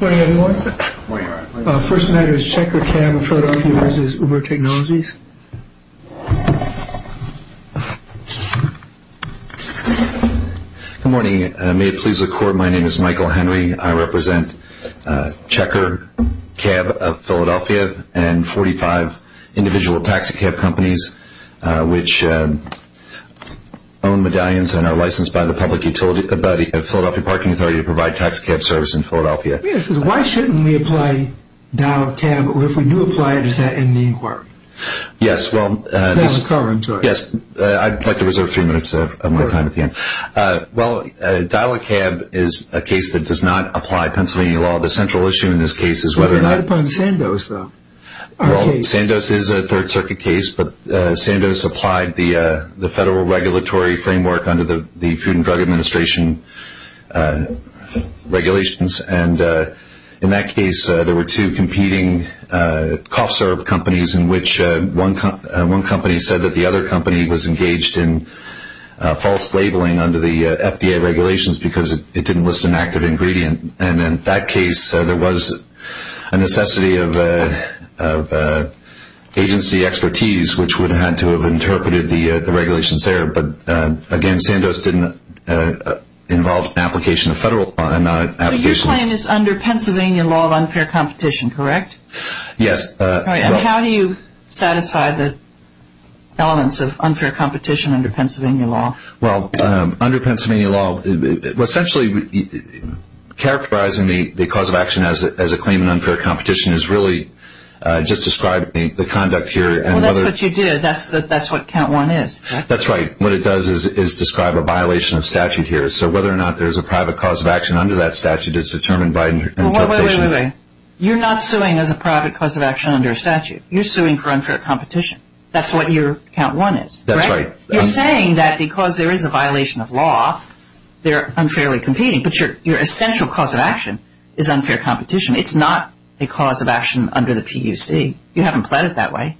Good morning everyone. First matter is Checker Cab of Philadelphia v. Uber Technologies. Good morning. May it please the court, my name is Michael Henry. I represent Checker Cab of Philadelphia and 45 individual taxi cab companies which own medallions and are licensed by the Philadelphia Parking Authority to provide taxi cab service in Philadelphia. Why shouldn't we apply Dial-A-Cab or if we do apply it, does that end the inquiry? Yes. I'd like to reserve a few minutes of my time at the end. Well, Dial-A-Cab is a case that does not apply Pennsylvania law. The central issue in this case is whether or not... Not upon Sandos though. Sandos is a Third Circuit case but Sandos applied the federal regulatory framework under the Food and Drug Administration regulations and in that case there were two competing cough syrup companies in which one company said that the other company was engaged in false labeling under the FDA regulations because it didn't list an active ingredient and in that case there was a necessity of agency expertise which would have had to have interpreted the regulations there but again, Sandos didn't involve an application of federal... So your claim is under Pennsylvania law of unfair competition, correct? Yes. And how do you satisfy the elements of unfair competition under Pennsylvania law? Well, under Pennsylvania law, essentially characterizing the cause of action as a claim in unfair competition is really just describing the conduct here and whether... Well, that's what you did. That's what count one is, correct? That's right. What it does is describe a violation of statute here so whether or not there's a private cause of action under that statute is determined by interpretation... Wait, wait, wait. You're not suing as a private cause of action under a statute. You're suing for unfair competition. That's what your count one is, right? That's right. You're saying that because there is a violation of law, they're unfairly competing but your essential cause of action is unfair competition. It's not a cause of action under the PUC. You haven't pled it that way.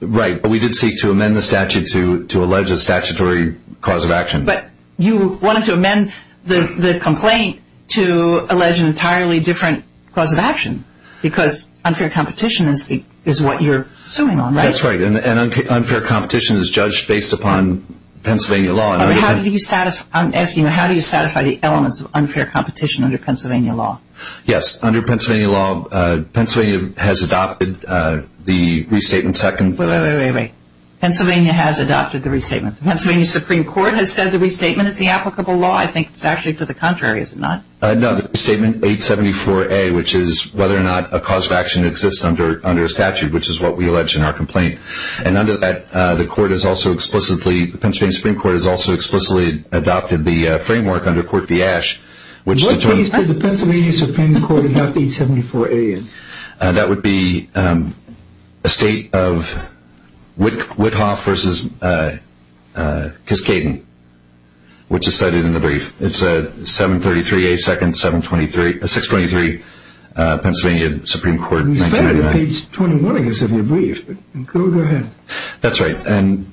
Right. But we did seek to amend the statute to allege a statutory cause of action. But you wanted to amend the complaint to allege an entirely different cause of action because unfair competition is what you're suing on, right? That's right. And unfair competition is judged based upon Pennsylvania law. I'm asking you, how do you satisfy the elements of unfair competition under Pennsylvania law? Yes. Under Pennsylvania law, Pennsylvania has adopted the restatement second... Wait, wait, wait. Pennsylvania has adopted the restatement. The Pennsylvania Supreme Court has said the restatement is the applicable law. I think it's actually to the contrary, is it not? No. The restatement 874A, which is whether or not a cause of action exists under a statute, which is what we allege in our complaint. And under that, the court has also explicitly... The Pennsylvania Supreme Court has also explicitly adopted the framework under Court v. Ashe, What page did the Pennsylvania Supreme Court adopt page 74A in? That would be a state of Woodhoff v. Kiscaden, which is cited in the brief. It's 733A, second, 623, Pennsylvania Supreme Court, 1989. It's cited on page 21, I guess, of your brief. Go ahead. That's right. And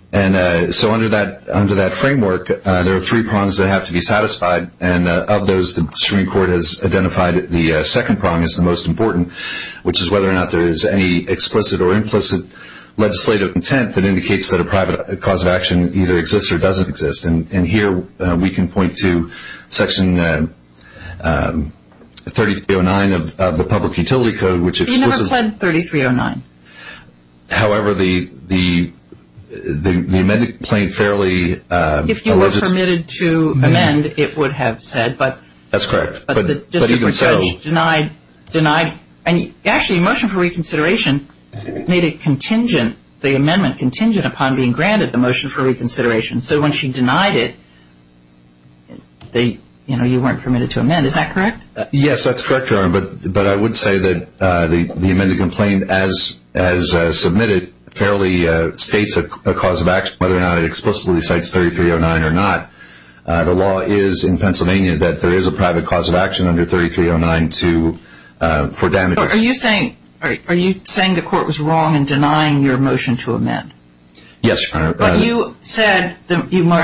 so under that framework, there are three prongs that have to be satisfied. And of those, the Supreme Court has identified the second prong as the most important, which is whether or not there is any explicit or implicit legislative intent that indicates that a private cause of action either exists or doesn't exist. And here we can point to Section 3309 of the Public Utility Code, which explicitly... You never pled 3309. However, the amended complaint fairly... If you were permitted to amend, it would have said, but... That's correct. But the district judge denied... Actually, the motion for reconsideration made it contingent, the amendment contingent upon being granted the motion for reconsideration. So when she denied it, you weren't permitted to amend. Is that correct? Yes, that's correct, Your Honor. But I would say that the amended complaint as submitted fairly states a cause of action, whether or not it explicitly cites 3309 or not. The law is in Pennsylvania that there is a private cause of action under 3309 for damages. So are you saying the court was wrong in denying your motion to amend? Yes, Your Honor. But you said the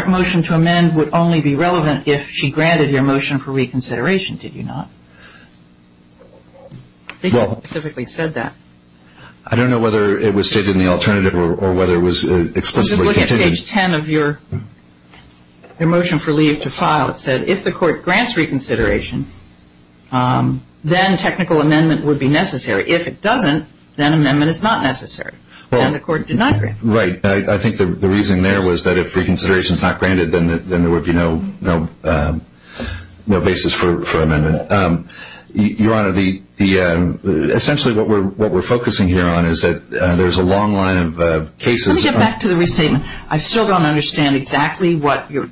motion to amend would only be relevant if she granted your motion for reconsideration, did you not? I think you specifically said that. I don't know whether it was stated in the alternative or whether it was explicitly contingent. Just look at page 10 of your motion for leave to file. It said, if the court grants reconsideration, then technical amendment would be necessary. If it doesn't, then amendment is not necessary. And the court did not grant it. Right. I think the reason there was that if reconsideration is not granted, then there would be no basis for amendment. Your Honor, essentially what we're focusing here on is that there's a long line of cases. Let me get back to the restatement. I still don't understand exactly what your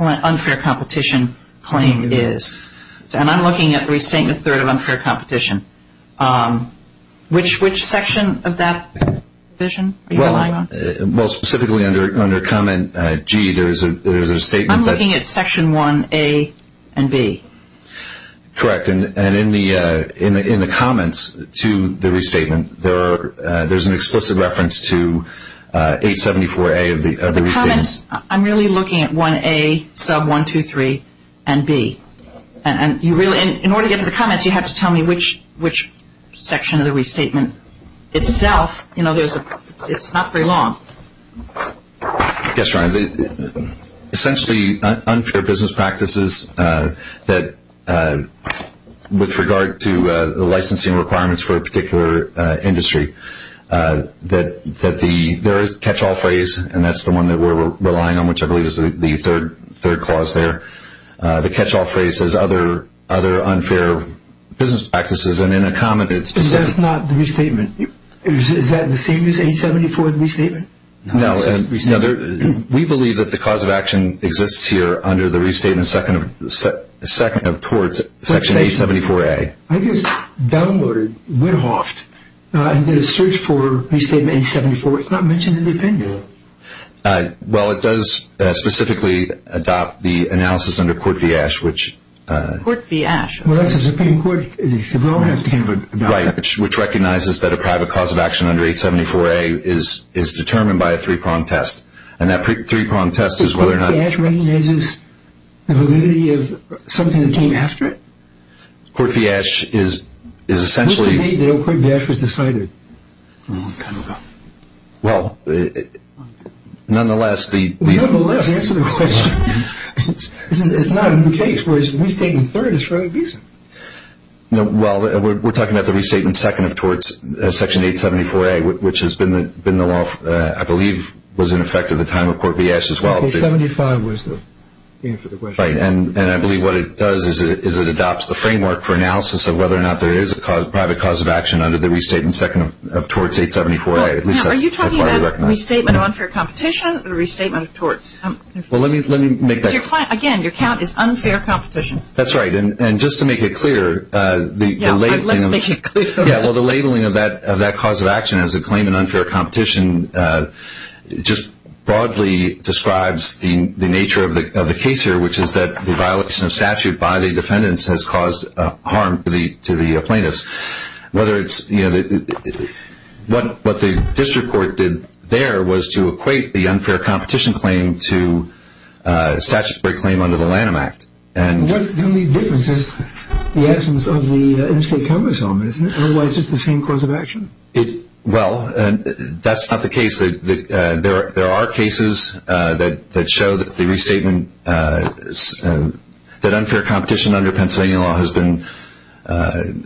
unfair competition claim is. And I'm looking at restatement third of unfair competition. Which section of that provision are you relying on? Well, specifically under comment G, there's a statement that – Correct. And in the comments to the restatement, there's an explicit reference to 874A of the restatement. The comments – I'm really looking at 1A, sub 123, and B. And in order to get to the comments, you have to tell me which section of the restatement itself. It's not very long. Yes, Your Honor. Essentially, unfair business practices that – with regard to the licensing requirements for a particular industry, that there is catch-all phrase, and that's the one that we're relying on, which I believe is the third clause there. The catch-all phrase is other unfair business practices. And in a comment – But that's not the restatement. Is that the same as 874, the restatement? No. We believe that the cause of action exists here under the restatement second of torts, section 874A. I just downloaded Whitthoft and did a search for restatement 874. It's not mentioned in the opinion. Well, it does specifically adopt the analysis under Court v. Ash, which – Court v. Ash. Well, that's the Supreme Court. Right, which recognizes that a private cause of action under 874A is determined by a three-pronged test. And that three-pronged test is whether or not – So Court v. Ash recognizes the validity of something that came after it? Court v. Ash is essentially – What's the date that Oak Creek Dash was decided? Nonetheless, answer the question. It's not a new case, whereas restatement third is fairly decent. Well, we're talking about the restatement second of torts, section 874A, which has been the law, I believe, was in effect at the time of Court v. Ash as well. 75 was the answer to the question. Right, and I believe what it does is it adopts the framework for analysis of whether or not there is a private cause of action under the restatement second of torts, 874A. Are you talking about restatement of unfair competition or restatement of torts? Again, your count is unfair competition. That's right, and just to make it clear – Let's make it clear. Well, the labeling of that cause of action as a claim in unfair competition just broadly describes the nature of the case here, which is that the violation of statute by the defendants has caused harm to the plaintiffs. What the district court did there was to equate the unfair competition claim to a statutory claim under the Lanham Act. What's the only difference is the absence of the interstate commerce element, or was it just the same cause of action? Well, that's not the case. There are cases that show that the restatement – that unfair competition under Pennsylvania law has been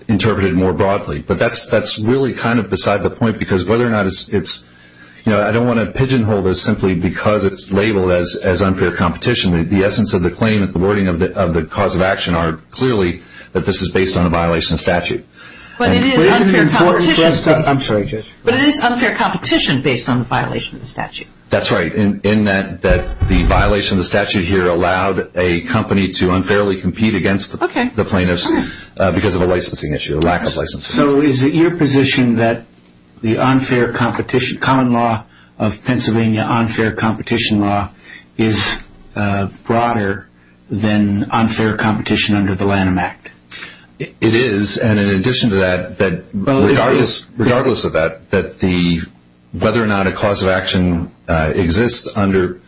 interpreted more broadly, but that's really kind of beside the point because whether or not it's – I don't want to pigeonhole this simply because it's labeled as unfair competition. The essence of the claim, the wording of the cause of action are clearly that this is based on a violation of statute. But it is unfair competition – I'm sorry, Judge. But it is unfair competition based on the violation of the statute. That's right. In that the violation of the statute here allowed a company to unfairly compete against the plaintiffs because of a licensing issue, a lack of licensing. So is it your position that the unfair competition – common law of Pennsylvania unfair competition law is broader than unfair competition under the Lanham Act? It is, and in addition to that, that regardless of that, that the – whether or not a cause of action exists under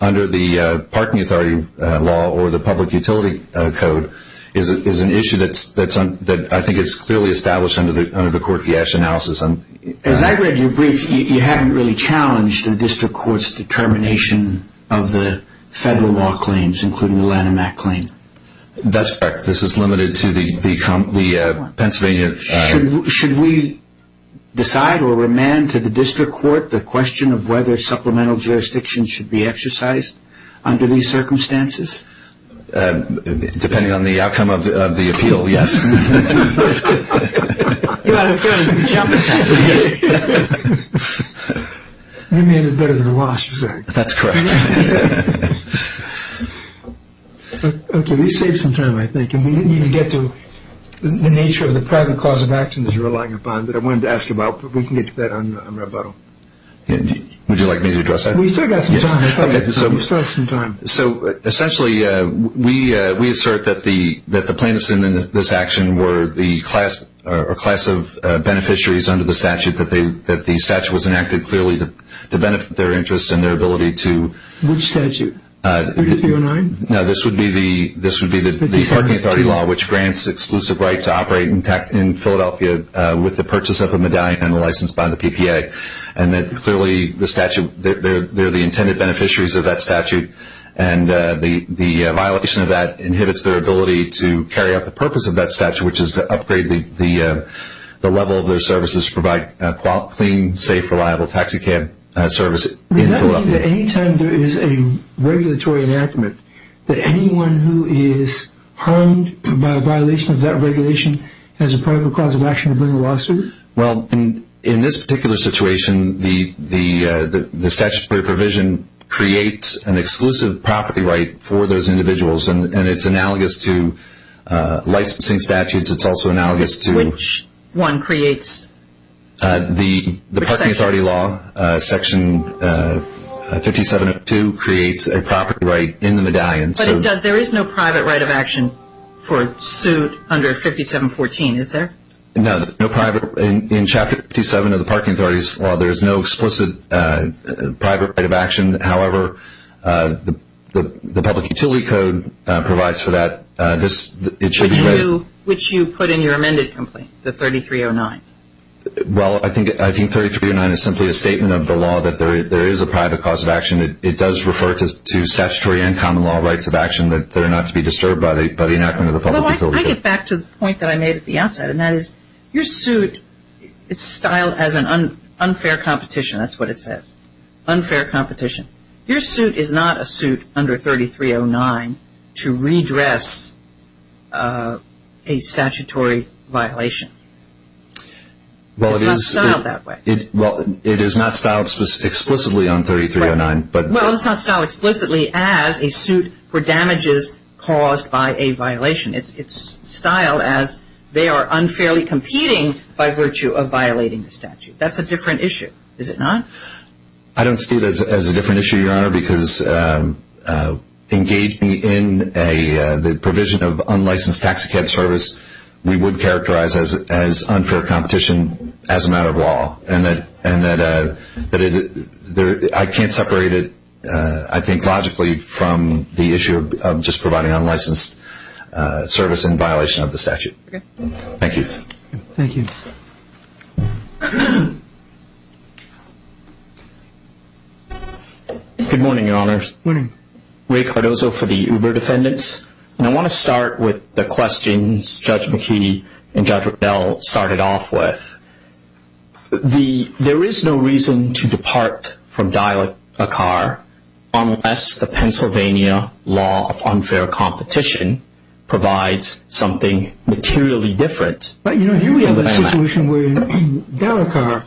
the parking authority law or the public utility code is an issue that I think is clearly established under the court fiasco analysis. As I read your brief, you haven't really challenged the district court's determination of the federal law claims, including the Lanham Act claim. That's correct. This is limited to the Pennsylvania – Should we decide or remand to the district court the question of whether supplemental jurisdiction should be exercised under these circumstances? Depending on the outcome of the appeal, yes. You're on a fairly good job of that. Yes. You made it better than the law, sir. That's correct. Okay, we saved some time, I think, and we didn't even get to the nature of the private cause of action that you're relying upon that I wanted to ask about, but we can get to that on rebuttal. Would you like me to address that? We've still got some time. Okay, so – We've still got some time. So, essentially, we assert that the plaintiffs in this action were the class – or class of beneficiaries under the statute that the statute was enacted clearly to benefit their interests and their ability to – Which statute? 3309? No, this would be the parking authority law, which grants exclusive right to operate in Philadelphia with the purchase of a medallion and a license by the PPA, and that clearly the statute – they're the intended beneficiaries of that statute, and the violation of that inhibits their ability to carry out the purpose of that statute, which is to upgrade the level of their services to provide clean, safe, reliable taxicab service. Does that mean that any time there is a regulatory enactment, that anyone who is harmed by a violation of that regulation has a private cause of action to bring a lawsuit? Well, in this particular situation, the statutory provision creates an exclusive property right for those individuals, and it's analogous to licensing statutes. It's also analogous to – Which one creates? The parking authority law, Section 5702 creates a property right in the medallion. But it does – there is no private right of action for a suit under 5714, is there? No, no private – in Chapter 57 of the parking authority's law, there is no explicit private right of action. However, the public utility code provides for that. Which you put in your amended complaint, the 3309. Well, I think 3309 is simply a statement of the law that there is a private cause of action. It does refer to statutory and common law rights of action that are not to be disturbed by the enactment of the public utility code. I get back to the point that I made at the outset, and that is your suit is styled as an unfair competition. That's what it says, unfair competition. Your suit is not a suit under 3309 to redress a statutory violation. Well, it is – It's not styled that way. Well, it is not styled explicitly on 3309, but – Well, it's not styled explicitly as a suit for damages caused by a violation. It's styled as they are unfairly competing by virtue of violating the statute. That's a different issue, is it not? I don't see it as a different issue, Your Honor, because engaging in the provision of unlicensed taxicab service, we would characterize as unfair competition as a matter of law. And that I can't separate it, I think, logically from the issue of just providing unlicensed service in violation of the statute. Thank you. Thank you. Good morning, Your Honors. Good morning. Ray Cardozo for the Uber Defendants. And I want to start with the questions Judge McKee and Judge Riddell started off with. There is no reason to depart from dial-a-car unless the Pennsylvania law of unfair competition provides something materially different. You know, here we have a situation where dial-a-car,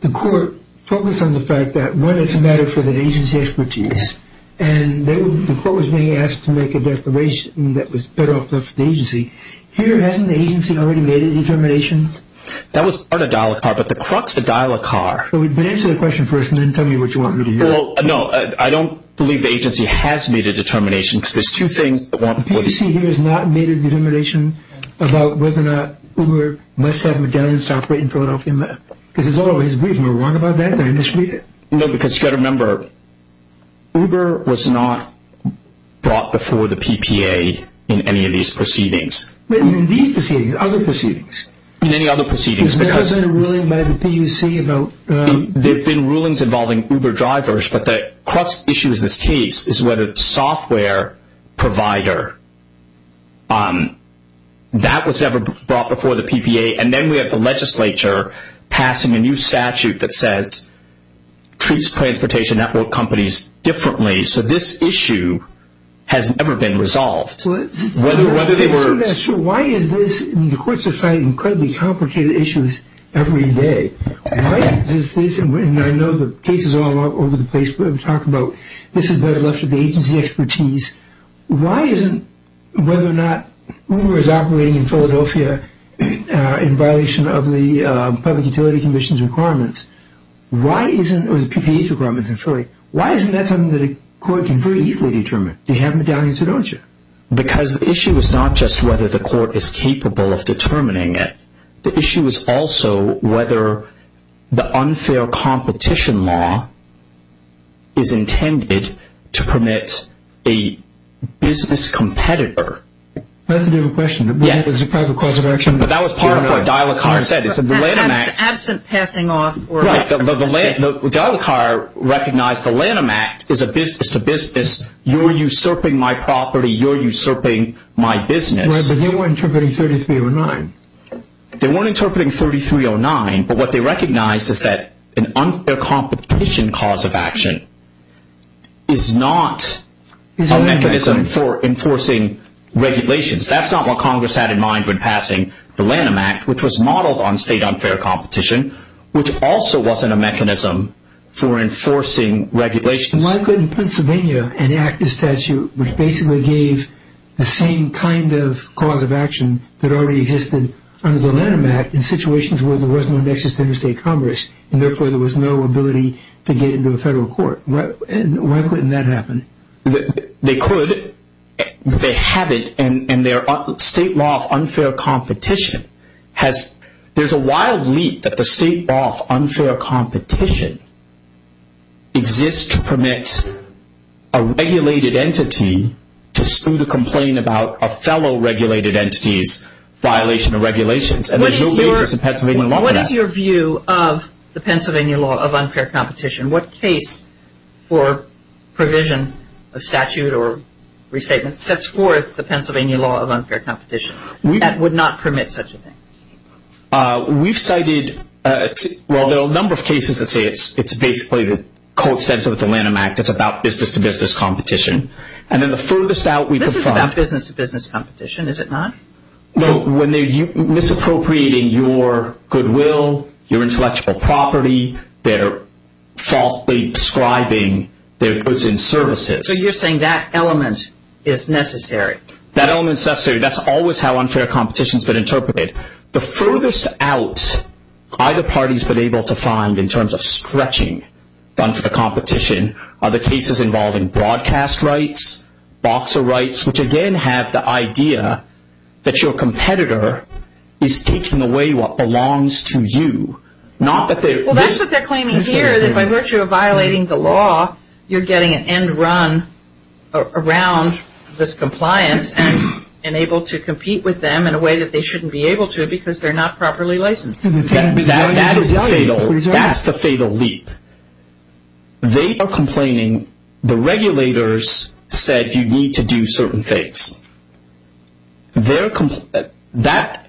the court focused on the fact that, one, it's a matter for the agency expertise. And the court was being asked to make a declaration that was better off for the agency. Here, hasn't the agency already made a determination? That was part of dial-a-car, but the crux of dial-a-car – Answer the question first and then tell me what you want me to hear. No, I don't believe the agency has made a determination because there's two things – The agency here has not made a determination about whether or not Uber must have medallions to operate in Philadelphia. Because it's always brief, and we're wrong about that. No, because you've got to remember, Uber was not brought before the PPA in any of these proceedings. In these proceedings, other proceedings. In any other proceedings because – There's never been a ruling by the PUC about – There have been rulings involving Uber drivers, but the crux issue of this case is whether the software provider, that was never brought before the PPA. And then we have the legislature passing a new statute that says, treats transportation network companies differently. So this issue has never been resolved. So why is this – the courts are citing incredibly complicated issues every day. Why is this – and I know the case is all over the place, but we talk about this is better left to the agency expertise. Why isn't – whether or not Uber is operating in Philadelphia in violation of the Public Utility Commission's requirements, why isn't – or the PPA's requirements, I'm sorry. Why isn't that something that a court can very easily determine? They have medallions, don't you? Because the issue is not just whether the court is capable of determining it. The issue is also whether the unfair competition law is intended to permit a business competitor. That's a different question. Yeah. Is it part of the cause of action? But that was part of what Dial-a-Car said. Absent passing off or – Right. Dial-a-Car recognized the Lanham Act is a business-to-business, you're usurping my property, you're usurping my business. Right, but they weren't interpreting 3309. They weren't interpreting 3309, but what they recognized is that an unfair competition cause of action is not a mechanism for enforcing regulations. That's not what Congress had in mind when passing the Lanham Act, which was modeled on state unfair competition, which also wasn't a mechanism for enforcing regulations. Why couldn't Pennsylvania enact a statute which basically gave the same kind of cause of action that already existed under the Lanham Act in situations where there was no nexus to interstate commerce and therefore there was no ability to get into a federal court? Why couldn't that happen? They could. They haven't, and their state law of unfair competition has – there's a wild leap that the state law of unfair competition exists to permit a regulated entity to sue to complain about a fellow regulated entity's violation of regulations, and there's no basis in Pennsylvania law for that. What is your view of the Pennsylvania law of unfair competition? What case for provision of statute or restatement sets forth the Pennsylvania law of unfair competition that would not permit such a thing? We've cited – well, there are a number of cases that say it's basically the co-extension of the Lanham Act. It's about business-to-business competition. And then the furthest out we could find – This is about business-to-business competition, is it not? When they're misappropriating your goodwill, your intellectual property, they're falsely describing their goods and services. So you're saying that element is necessary? That element's necessary. That's always how unfair competition's been interpreted. The furthest out either party's been able to find in terms of stretching done for the competition are the cases involving broadcast rights, boxer rights, which again have the idea that your competitor is taking away what belongs to you. Well, that's what they're claiming here, that by virtue of violating the law, you're getting an end run around this compliance and able to compete with them in a way that they shouldn't be able to because they're not properly licensed. That's the fatal leap. They are complaining the regulators said you need to do certain things. That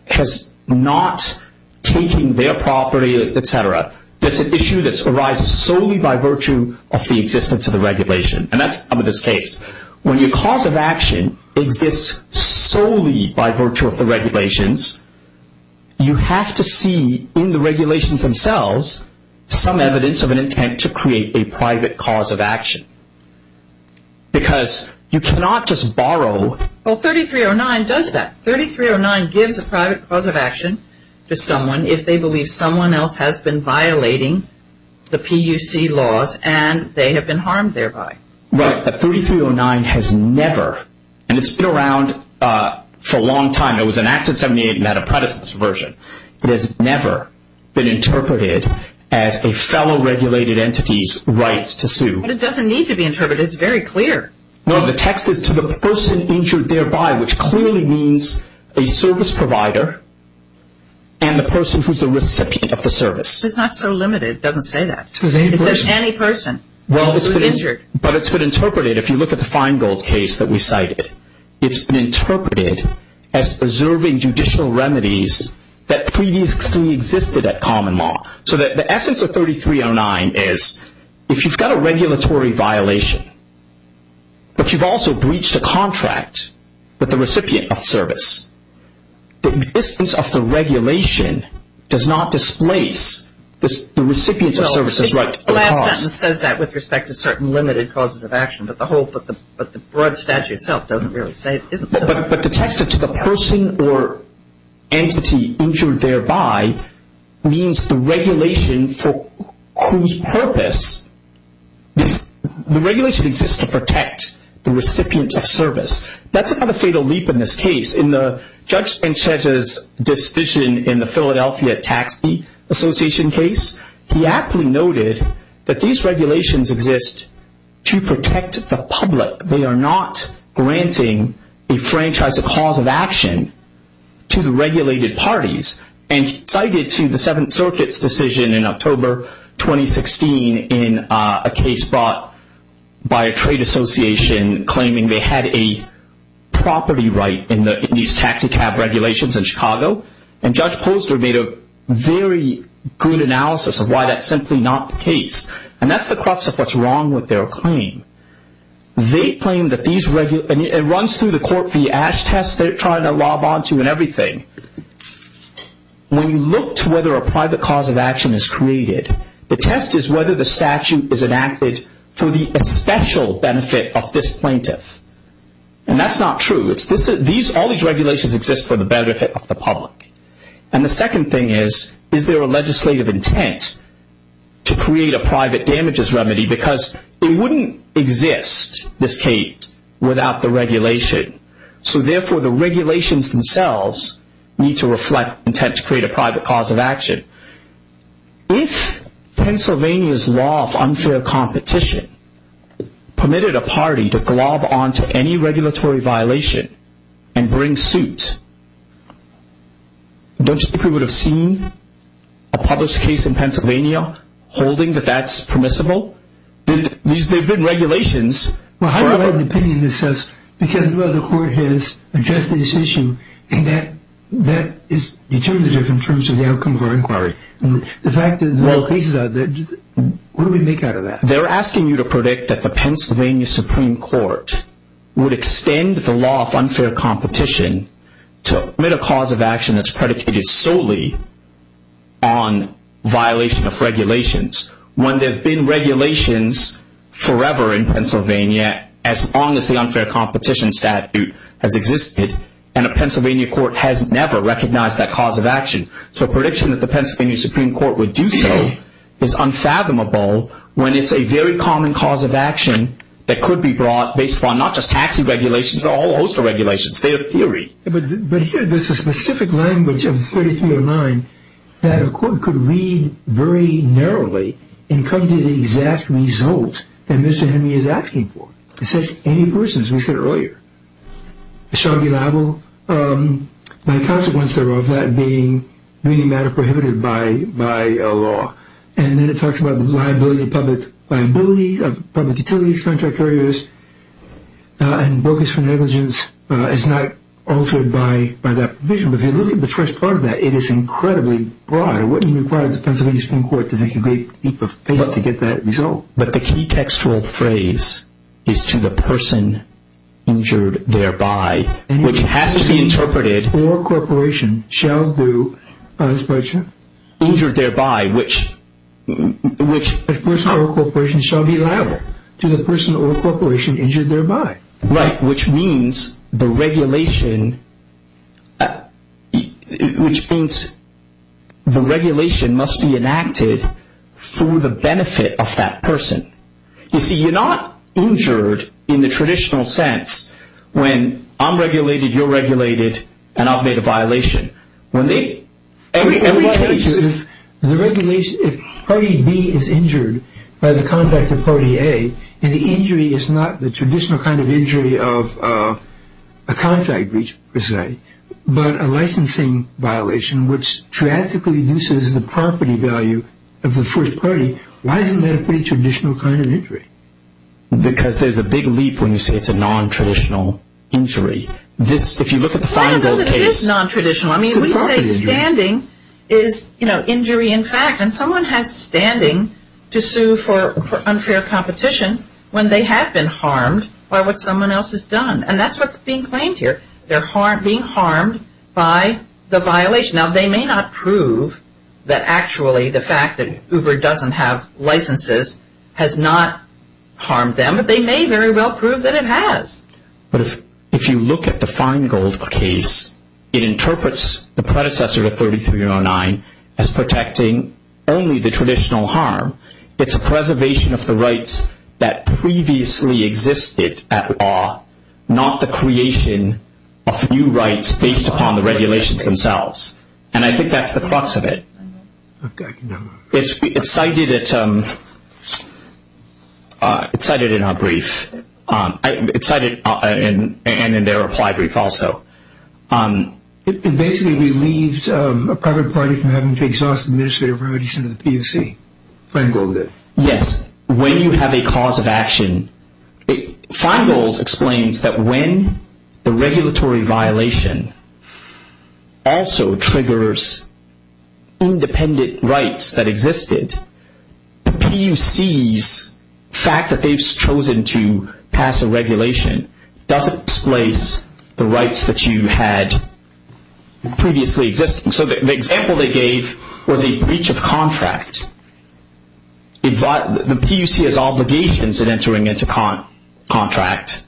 has not taken their property, etc. That's an issue that arises solely by virtue of the existence of the regulation. And that's some of this case. When your cause of action exists solely by virtue of the regulations, you have to see in the regulations themselves some evidence of an intent to create a private cause of action because you cannot just borrow. Well, 3309 does that. 3309 gives a private cause of action to someone if they believe someone else has been violating the PUC laws and they have been harmed thereby. Right, but 3309 has never, and it's been around for a long time. It was enacted in 78 and had a predecessor version. It has never been interpreted as a fellow regulated entity's right to sue. But it doesn't need to be interpreted. It's very clear. No, the text is to the person injured thereby, which clearly means a service provider and the person who's the recipient of the service. It's not so limited. It doesn't say that. It says any person. Well, but it's been interpreted. If you look at the Feingold case that we cited, it's been interpreted as preserving judicial remedies that previously existed at common law. So the essence of 3309 is if you've got a regulatory violation, but you've also breached a contract with the recipient of service, the existence of the regulation does not displace the recipient of service's right to cause. No, the last sentence says that with respect to certain limited causes of action, but the broad statute itself doesn't really say it. But the text is to the person or entity injured thereby means the regulation for whose purpose. The regulation exists to protect the recipient of service. That's about a fatal leap in this case. In Judge Spencer's decision in the Philadelphia Tax Association case, he aptly noted that these regulations exist to protect the public. They are not granting a franchise a cause of action to the regulated parties. And he cited to the Seventh Circuit's decision in October 2016 in a case brought by a trade association claiming they had a property right in these taxicab regulations in Chicago. And Judge Posner made a very good analysis of why that's simply not the case. And that's the crux of what's wrong with their claim. They claim that these regulations, and it runs through the Court v. Ash test they're trying to lob on to and everything. When you look to whether a private cause of action is created, the test is whether the statute is enacted for the especial benefit of this plaintiff. And that's not true. All these regulations exist for the benefit of the public. And the second thing is, is there a legislative intent to create a private damages remedy? Because it wouldn't exist, this case, without the regulation. So therefore the regulations themselves need to reflect intent to create a private cause of action. If Pennsylvania's law of unfair competition permitted a party to glob on to any regulatory violation and bring suit, don't you think we would have seen a published case in Pennsylvania holding that that's permissible? There have been regulations. Well, I don't have an opinion in this sense because no other court has addressed this issue. And that is determinative in terms of the outcome of our inquiry. The fact is, what do we make out of that? They're asking you to predict that the Pennsylvania Supreme Court would extend the law of unfair competition to permit a cause of action that's predicated solely on violation of regulations. When there have been regulations forever in Pennsylvania, as long as the unfair competition statute has existed, and a Pennsylvania court has never recognized that cause of action. So a prediction that the Pennsylvania Supreme Court would do so is unfathomable when it's a very common cause of action that could be brought based upon not just taxi regulations, but a whole host of regulations, state of theory. But here there's a specific language of 3309 that a court could read very narrowly and come to the exact result that Mr. Henry is asking for. It says any person, as we said earlier, shall be liable by consequence thereof, that being any matter prohibited by law. And then it talks about the liability of public utilities, contract carriers, and brokers for negligence is not altered by that provision. But if you look at the first part of that, it is incredibly broad. It wouldn't require the Pennsylvania Supreme Court to think a great deep of faith to get that result. But the key textual phrase is to the person injured thereby, which has to be interpreted. Any person or corporation shall do, as part of your... Injured thereby, which... A person or corporation shall be liable to the person or corporation injured thereby. Right, which means the regulation must be enacted for the benefit of that person. You see, you're not injured in the traditional sense when I'm regulated, you're regulated, and I've made a violation. Every case is... If party B is injured by the contact of party A, and the injury is not the traditional kind of injury of a contract breach, per se, but a licensing violation which tragically loses the property value of the first party, why isn't that a pretty traditional kind of injury? Because there's a big leap when you say it's a non-traditional injury. I don't know that it is non-traditional. I mean, we say standing is injury in fact, and someone has standing to sue for unfair competition when they have been harmed by what someone else has done, and that's what's being claimed here. They're being harmed by the violation. Now, they may not prove that actually the fact that Uber doesn't have licenses has not harmed them, but they may very well prove that it has. But if you look at the Feingold case, it interprets the predecessor to 3309 as protecting only the traditional harm. It's a preservation of the rights that previously existed at law, not the creation of new rights based upon the regulations themselves, and I think that's the crux of it. It's cited in our brief. It's cited in their applied brief also. It basically relieves a private party from having to exhaust administrative priorities under the PUC. Feingold did. Yes. When you have a cause of action, Feingold explains that when the regulatory violation also triggers independent rights that existed, the PUC's fact that they've chosen to pass a regulation doesn't displace the rights that you had previously existing. So the example they gave was a breach of contract. The PUC has obligations in entering into contract,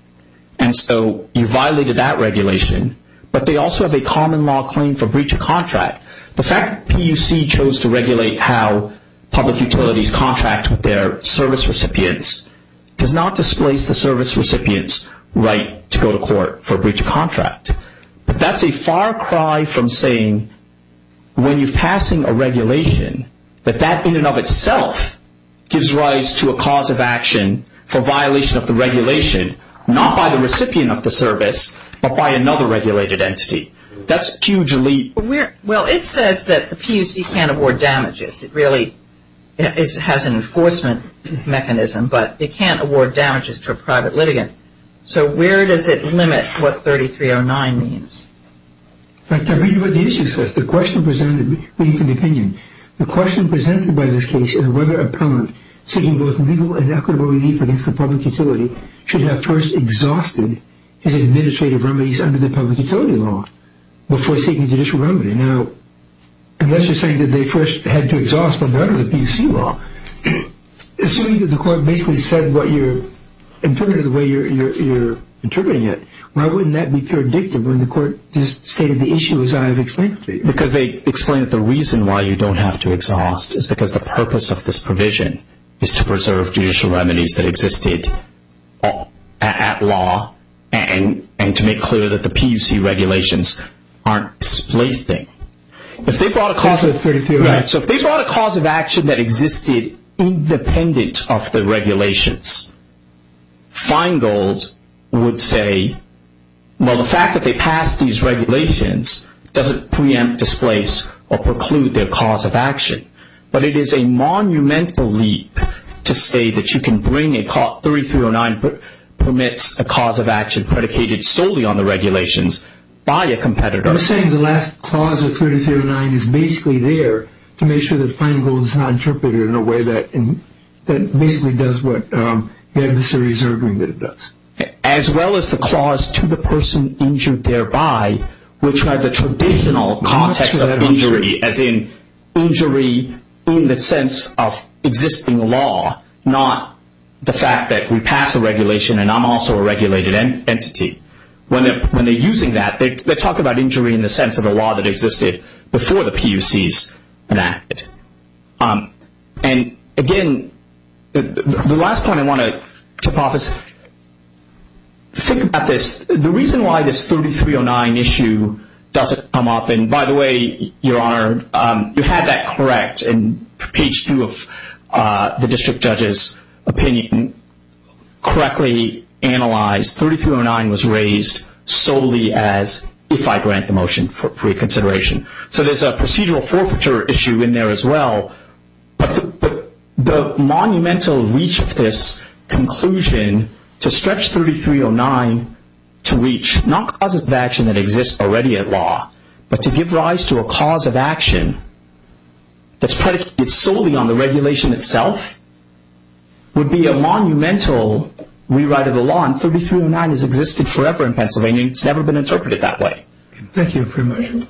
and so you violated that regulation, but they also have a common law claim for breach of contract. The fact that PUC chose to regulate how public utilities contract with their service recipients does not displace the service recipient's right to go to court for breach of contract, but that's a far cry from saying when you're passing a regulation that that in and of itself gives rise to a cause of action for violation of the regulation, not by the recipient of the service, but by another regulated entity. That's a huge leap. Well, it says that the PUC can't award damages. It really has an enforcement mechanism, but it can't award damages to a private litigant. So where does it limit what 3309 means? In fact, I read what the issue says. The question presented by this case is whether an appellant seeking both legal and equitable relief against the public utility should have first exhausted his administrative remedies under the public utility law before seeking judicial remedy. Now, unless you're saying that they first had to exhaust them under the PUC law, assuming that the court basically said what you're interpreting the way you're interpreting it, why wouldn't that be pure dictum when the court just stated the issue as I have explained it to you? Because they explained that the reason why you don't have to exhaust is because the purpose of this provision is to preserve judicial remedies that existed at law and to make clear that the PUC regulations aren't displacing. If they brought a cause of action that existed independent of the regulations, Feingold would say, well, the fact that they passed these regulations doesn't preempt, displace, or preclude their cause of action. But it is a monumental leap to say that you can bring a cause, 3309 permits a cause of action predicated solely on the regulations by a competitor. You're saying the last clause of 3309 is basically there to make sure that Feingold is not interpreted in a way that basically does what the adversary is arguing that it does. As well as the clause to the person injured thereby, which by the traditional context of injury, as in injury in the sense of existing law, not the fact that we pass a regulation and I'm also a regulated entity. When they're using that, they talk about injury in the sense of a law that existed before the PUCs enacted. And, again, the last point I want to pop is think about this. The reason why this 3309 issue doesn't come up, and, by the way, Your Honor, you had that correct in page two of the district judge's opinion, correctly analyzed. 3309 was raised solely as if I grant the motion for reconsideration. So there's a procedural forfeiture issue in there as well. But the monumental reach of this conclusion to stretch 3309 to reach not causes of action that exist already at law, but to give rise to a cause of action that's predicated solely on the regulation itself would be a monumental rewrite of the law, and 3309 has existed forever in Pennsylvania and it's never been interpreted that way. Thank you very much.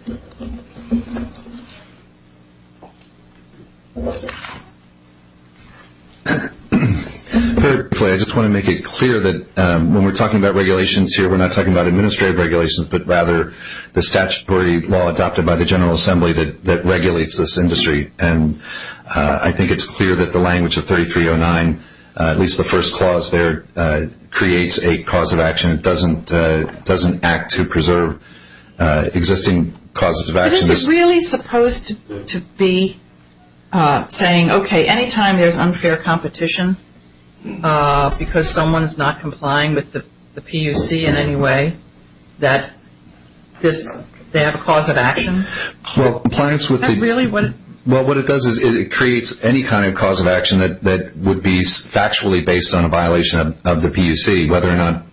I just want to make it clear that when we're talking about regulations here, we're not talking about administrative regulations, but rather the statutory law adopted by the General Assembly that regulates this industry. And I think it's clear that the language of 3309, at least the first clause there, creates a cause of action. It doesn't act to preserve existing causes of action. But is it really supposed to be saying, okay, anytime there's unfair competition because someone is not complying with the PUC in any way, that they have a cause of action? Well, what it does is it creates any kind of cause of action that would be factually based on a violation of the PUC, whether or not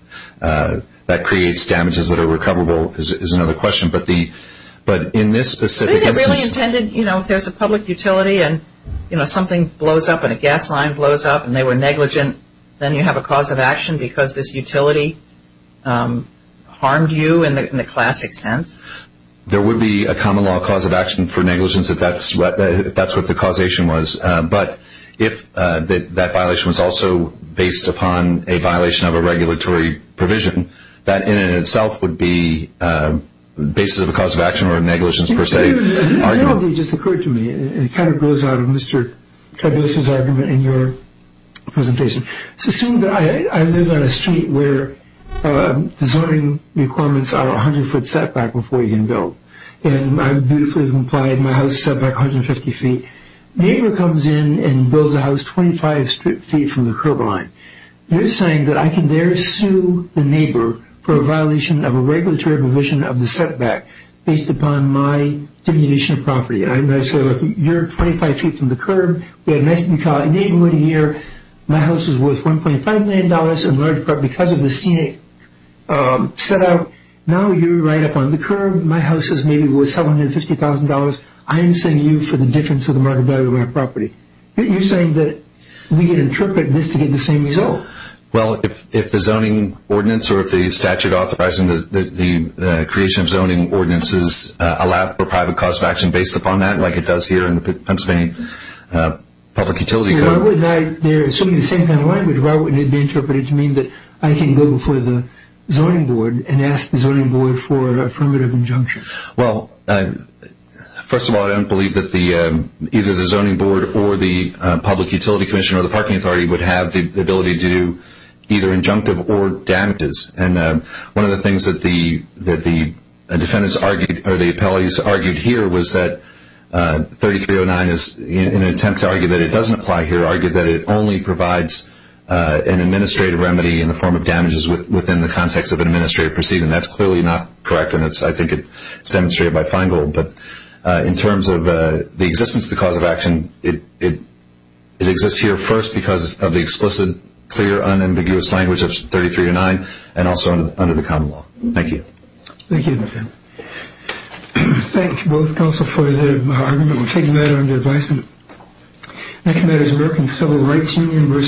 that creates damages that are recoverable is another question. But in this specific instance... But is it really intended, you know, if there's a public utility and, you know, something blows up and a gas line blows up and they were negligent, then you have a cause of action because this utility harmed you in the classic sense? There would be a common law cause of action for negligence if that's what the causation was. But if that violation was also based upon a violation of a regulatory provision, that in and of itself would be the basis of a cause of action or a negligence per se argument. It just occurred to me, and it kind of goes out of Mr. Fabulous's argument in your presentation. Let's assume that I live on a street where the zoning requirements are a 100-foot setback before you can build. And I've beautifully implied my house is set back 150 feet. A neighbor comes in and builds a house 25 feet from the curb line. You're saying that I can there sue the neighbor for a violation of a regulatory provision of the setback based upon my diminution of property. And I say, look, you're 25 feet from the curb. We have a nice, clean car. I didn't live here. My house was worth $1.5 million in large part because of the scenic setout. Now you're right up on the curb. My house is maybe worth $750,000. I am suing you for the difference of the market value of my property. You're saying that we can interpret this to get the same result. Well, if the zoning ordinance or if the statute authorizing the creation of zoning ordinances allow for private cause of action based upon that, like it does here in the Pennsylvania Public Utility Code. Why would I? They're assuming the same kind of language. Why wouldn't it be interpreted to mean that I can go before the zoning board and ask the zoning board for an affirmative injunction? Well, first of all, I don't believe that either the zoning board or the public utility commission or the parking authority would have the ability to do either injunctive or damages. And one of the things that the defendants argued, or the appellees argued here, was that 3309, in an attempt to argue that it doesn't apply here, argued that it only provides an administrative remedy in the form of damages within the context of an administrative proceeding. And that's clearly not correct, and I think it's demonstrated by Feingold. But in terms of the existence of the cause of action, it exists here first because of the explicit, clear, unambiguous language of 3309 and also under the common law. Thank you. Thank you. Thank you both, counsel, for the argument. We'll take a matter under advisement. Next matter is American Civil Rights Union v. Federal PCA Commissioners.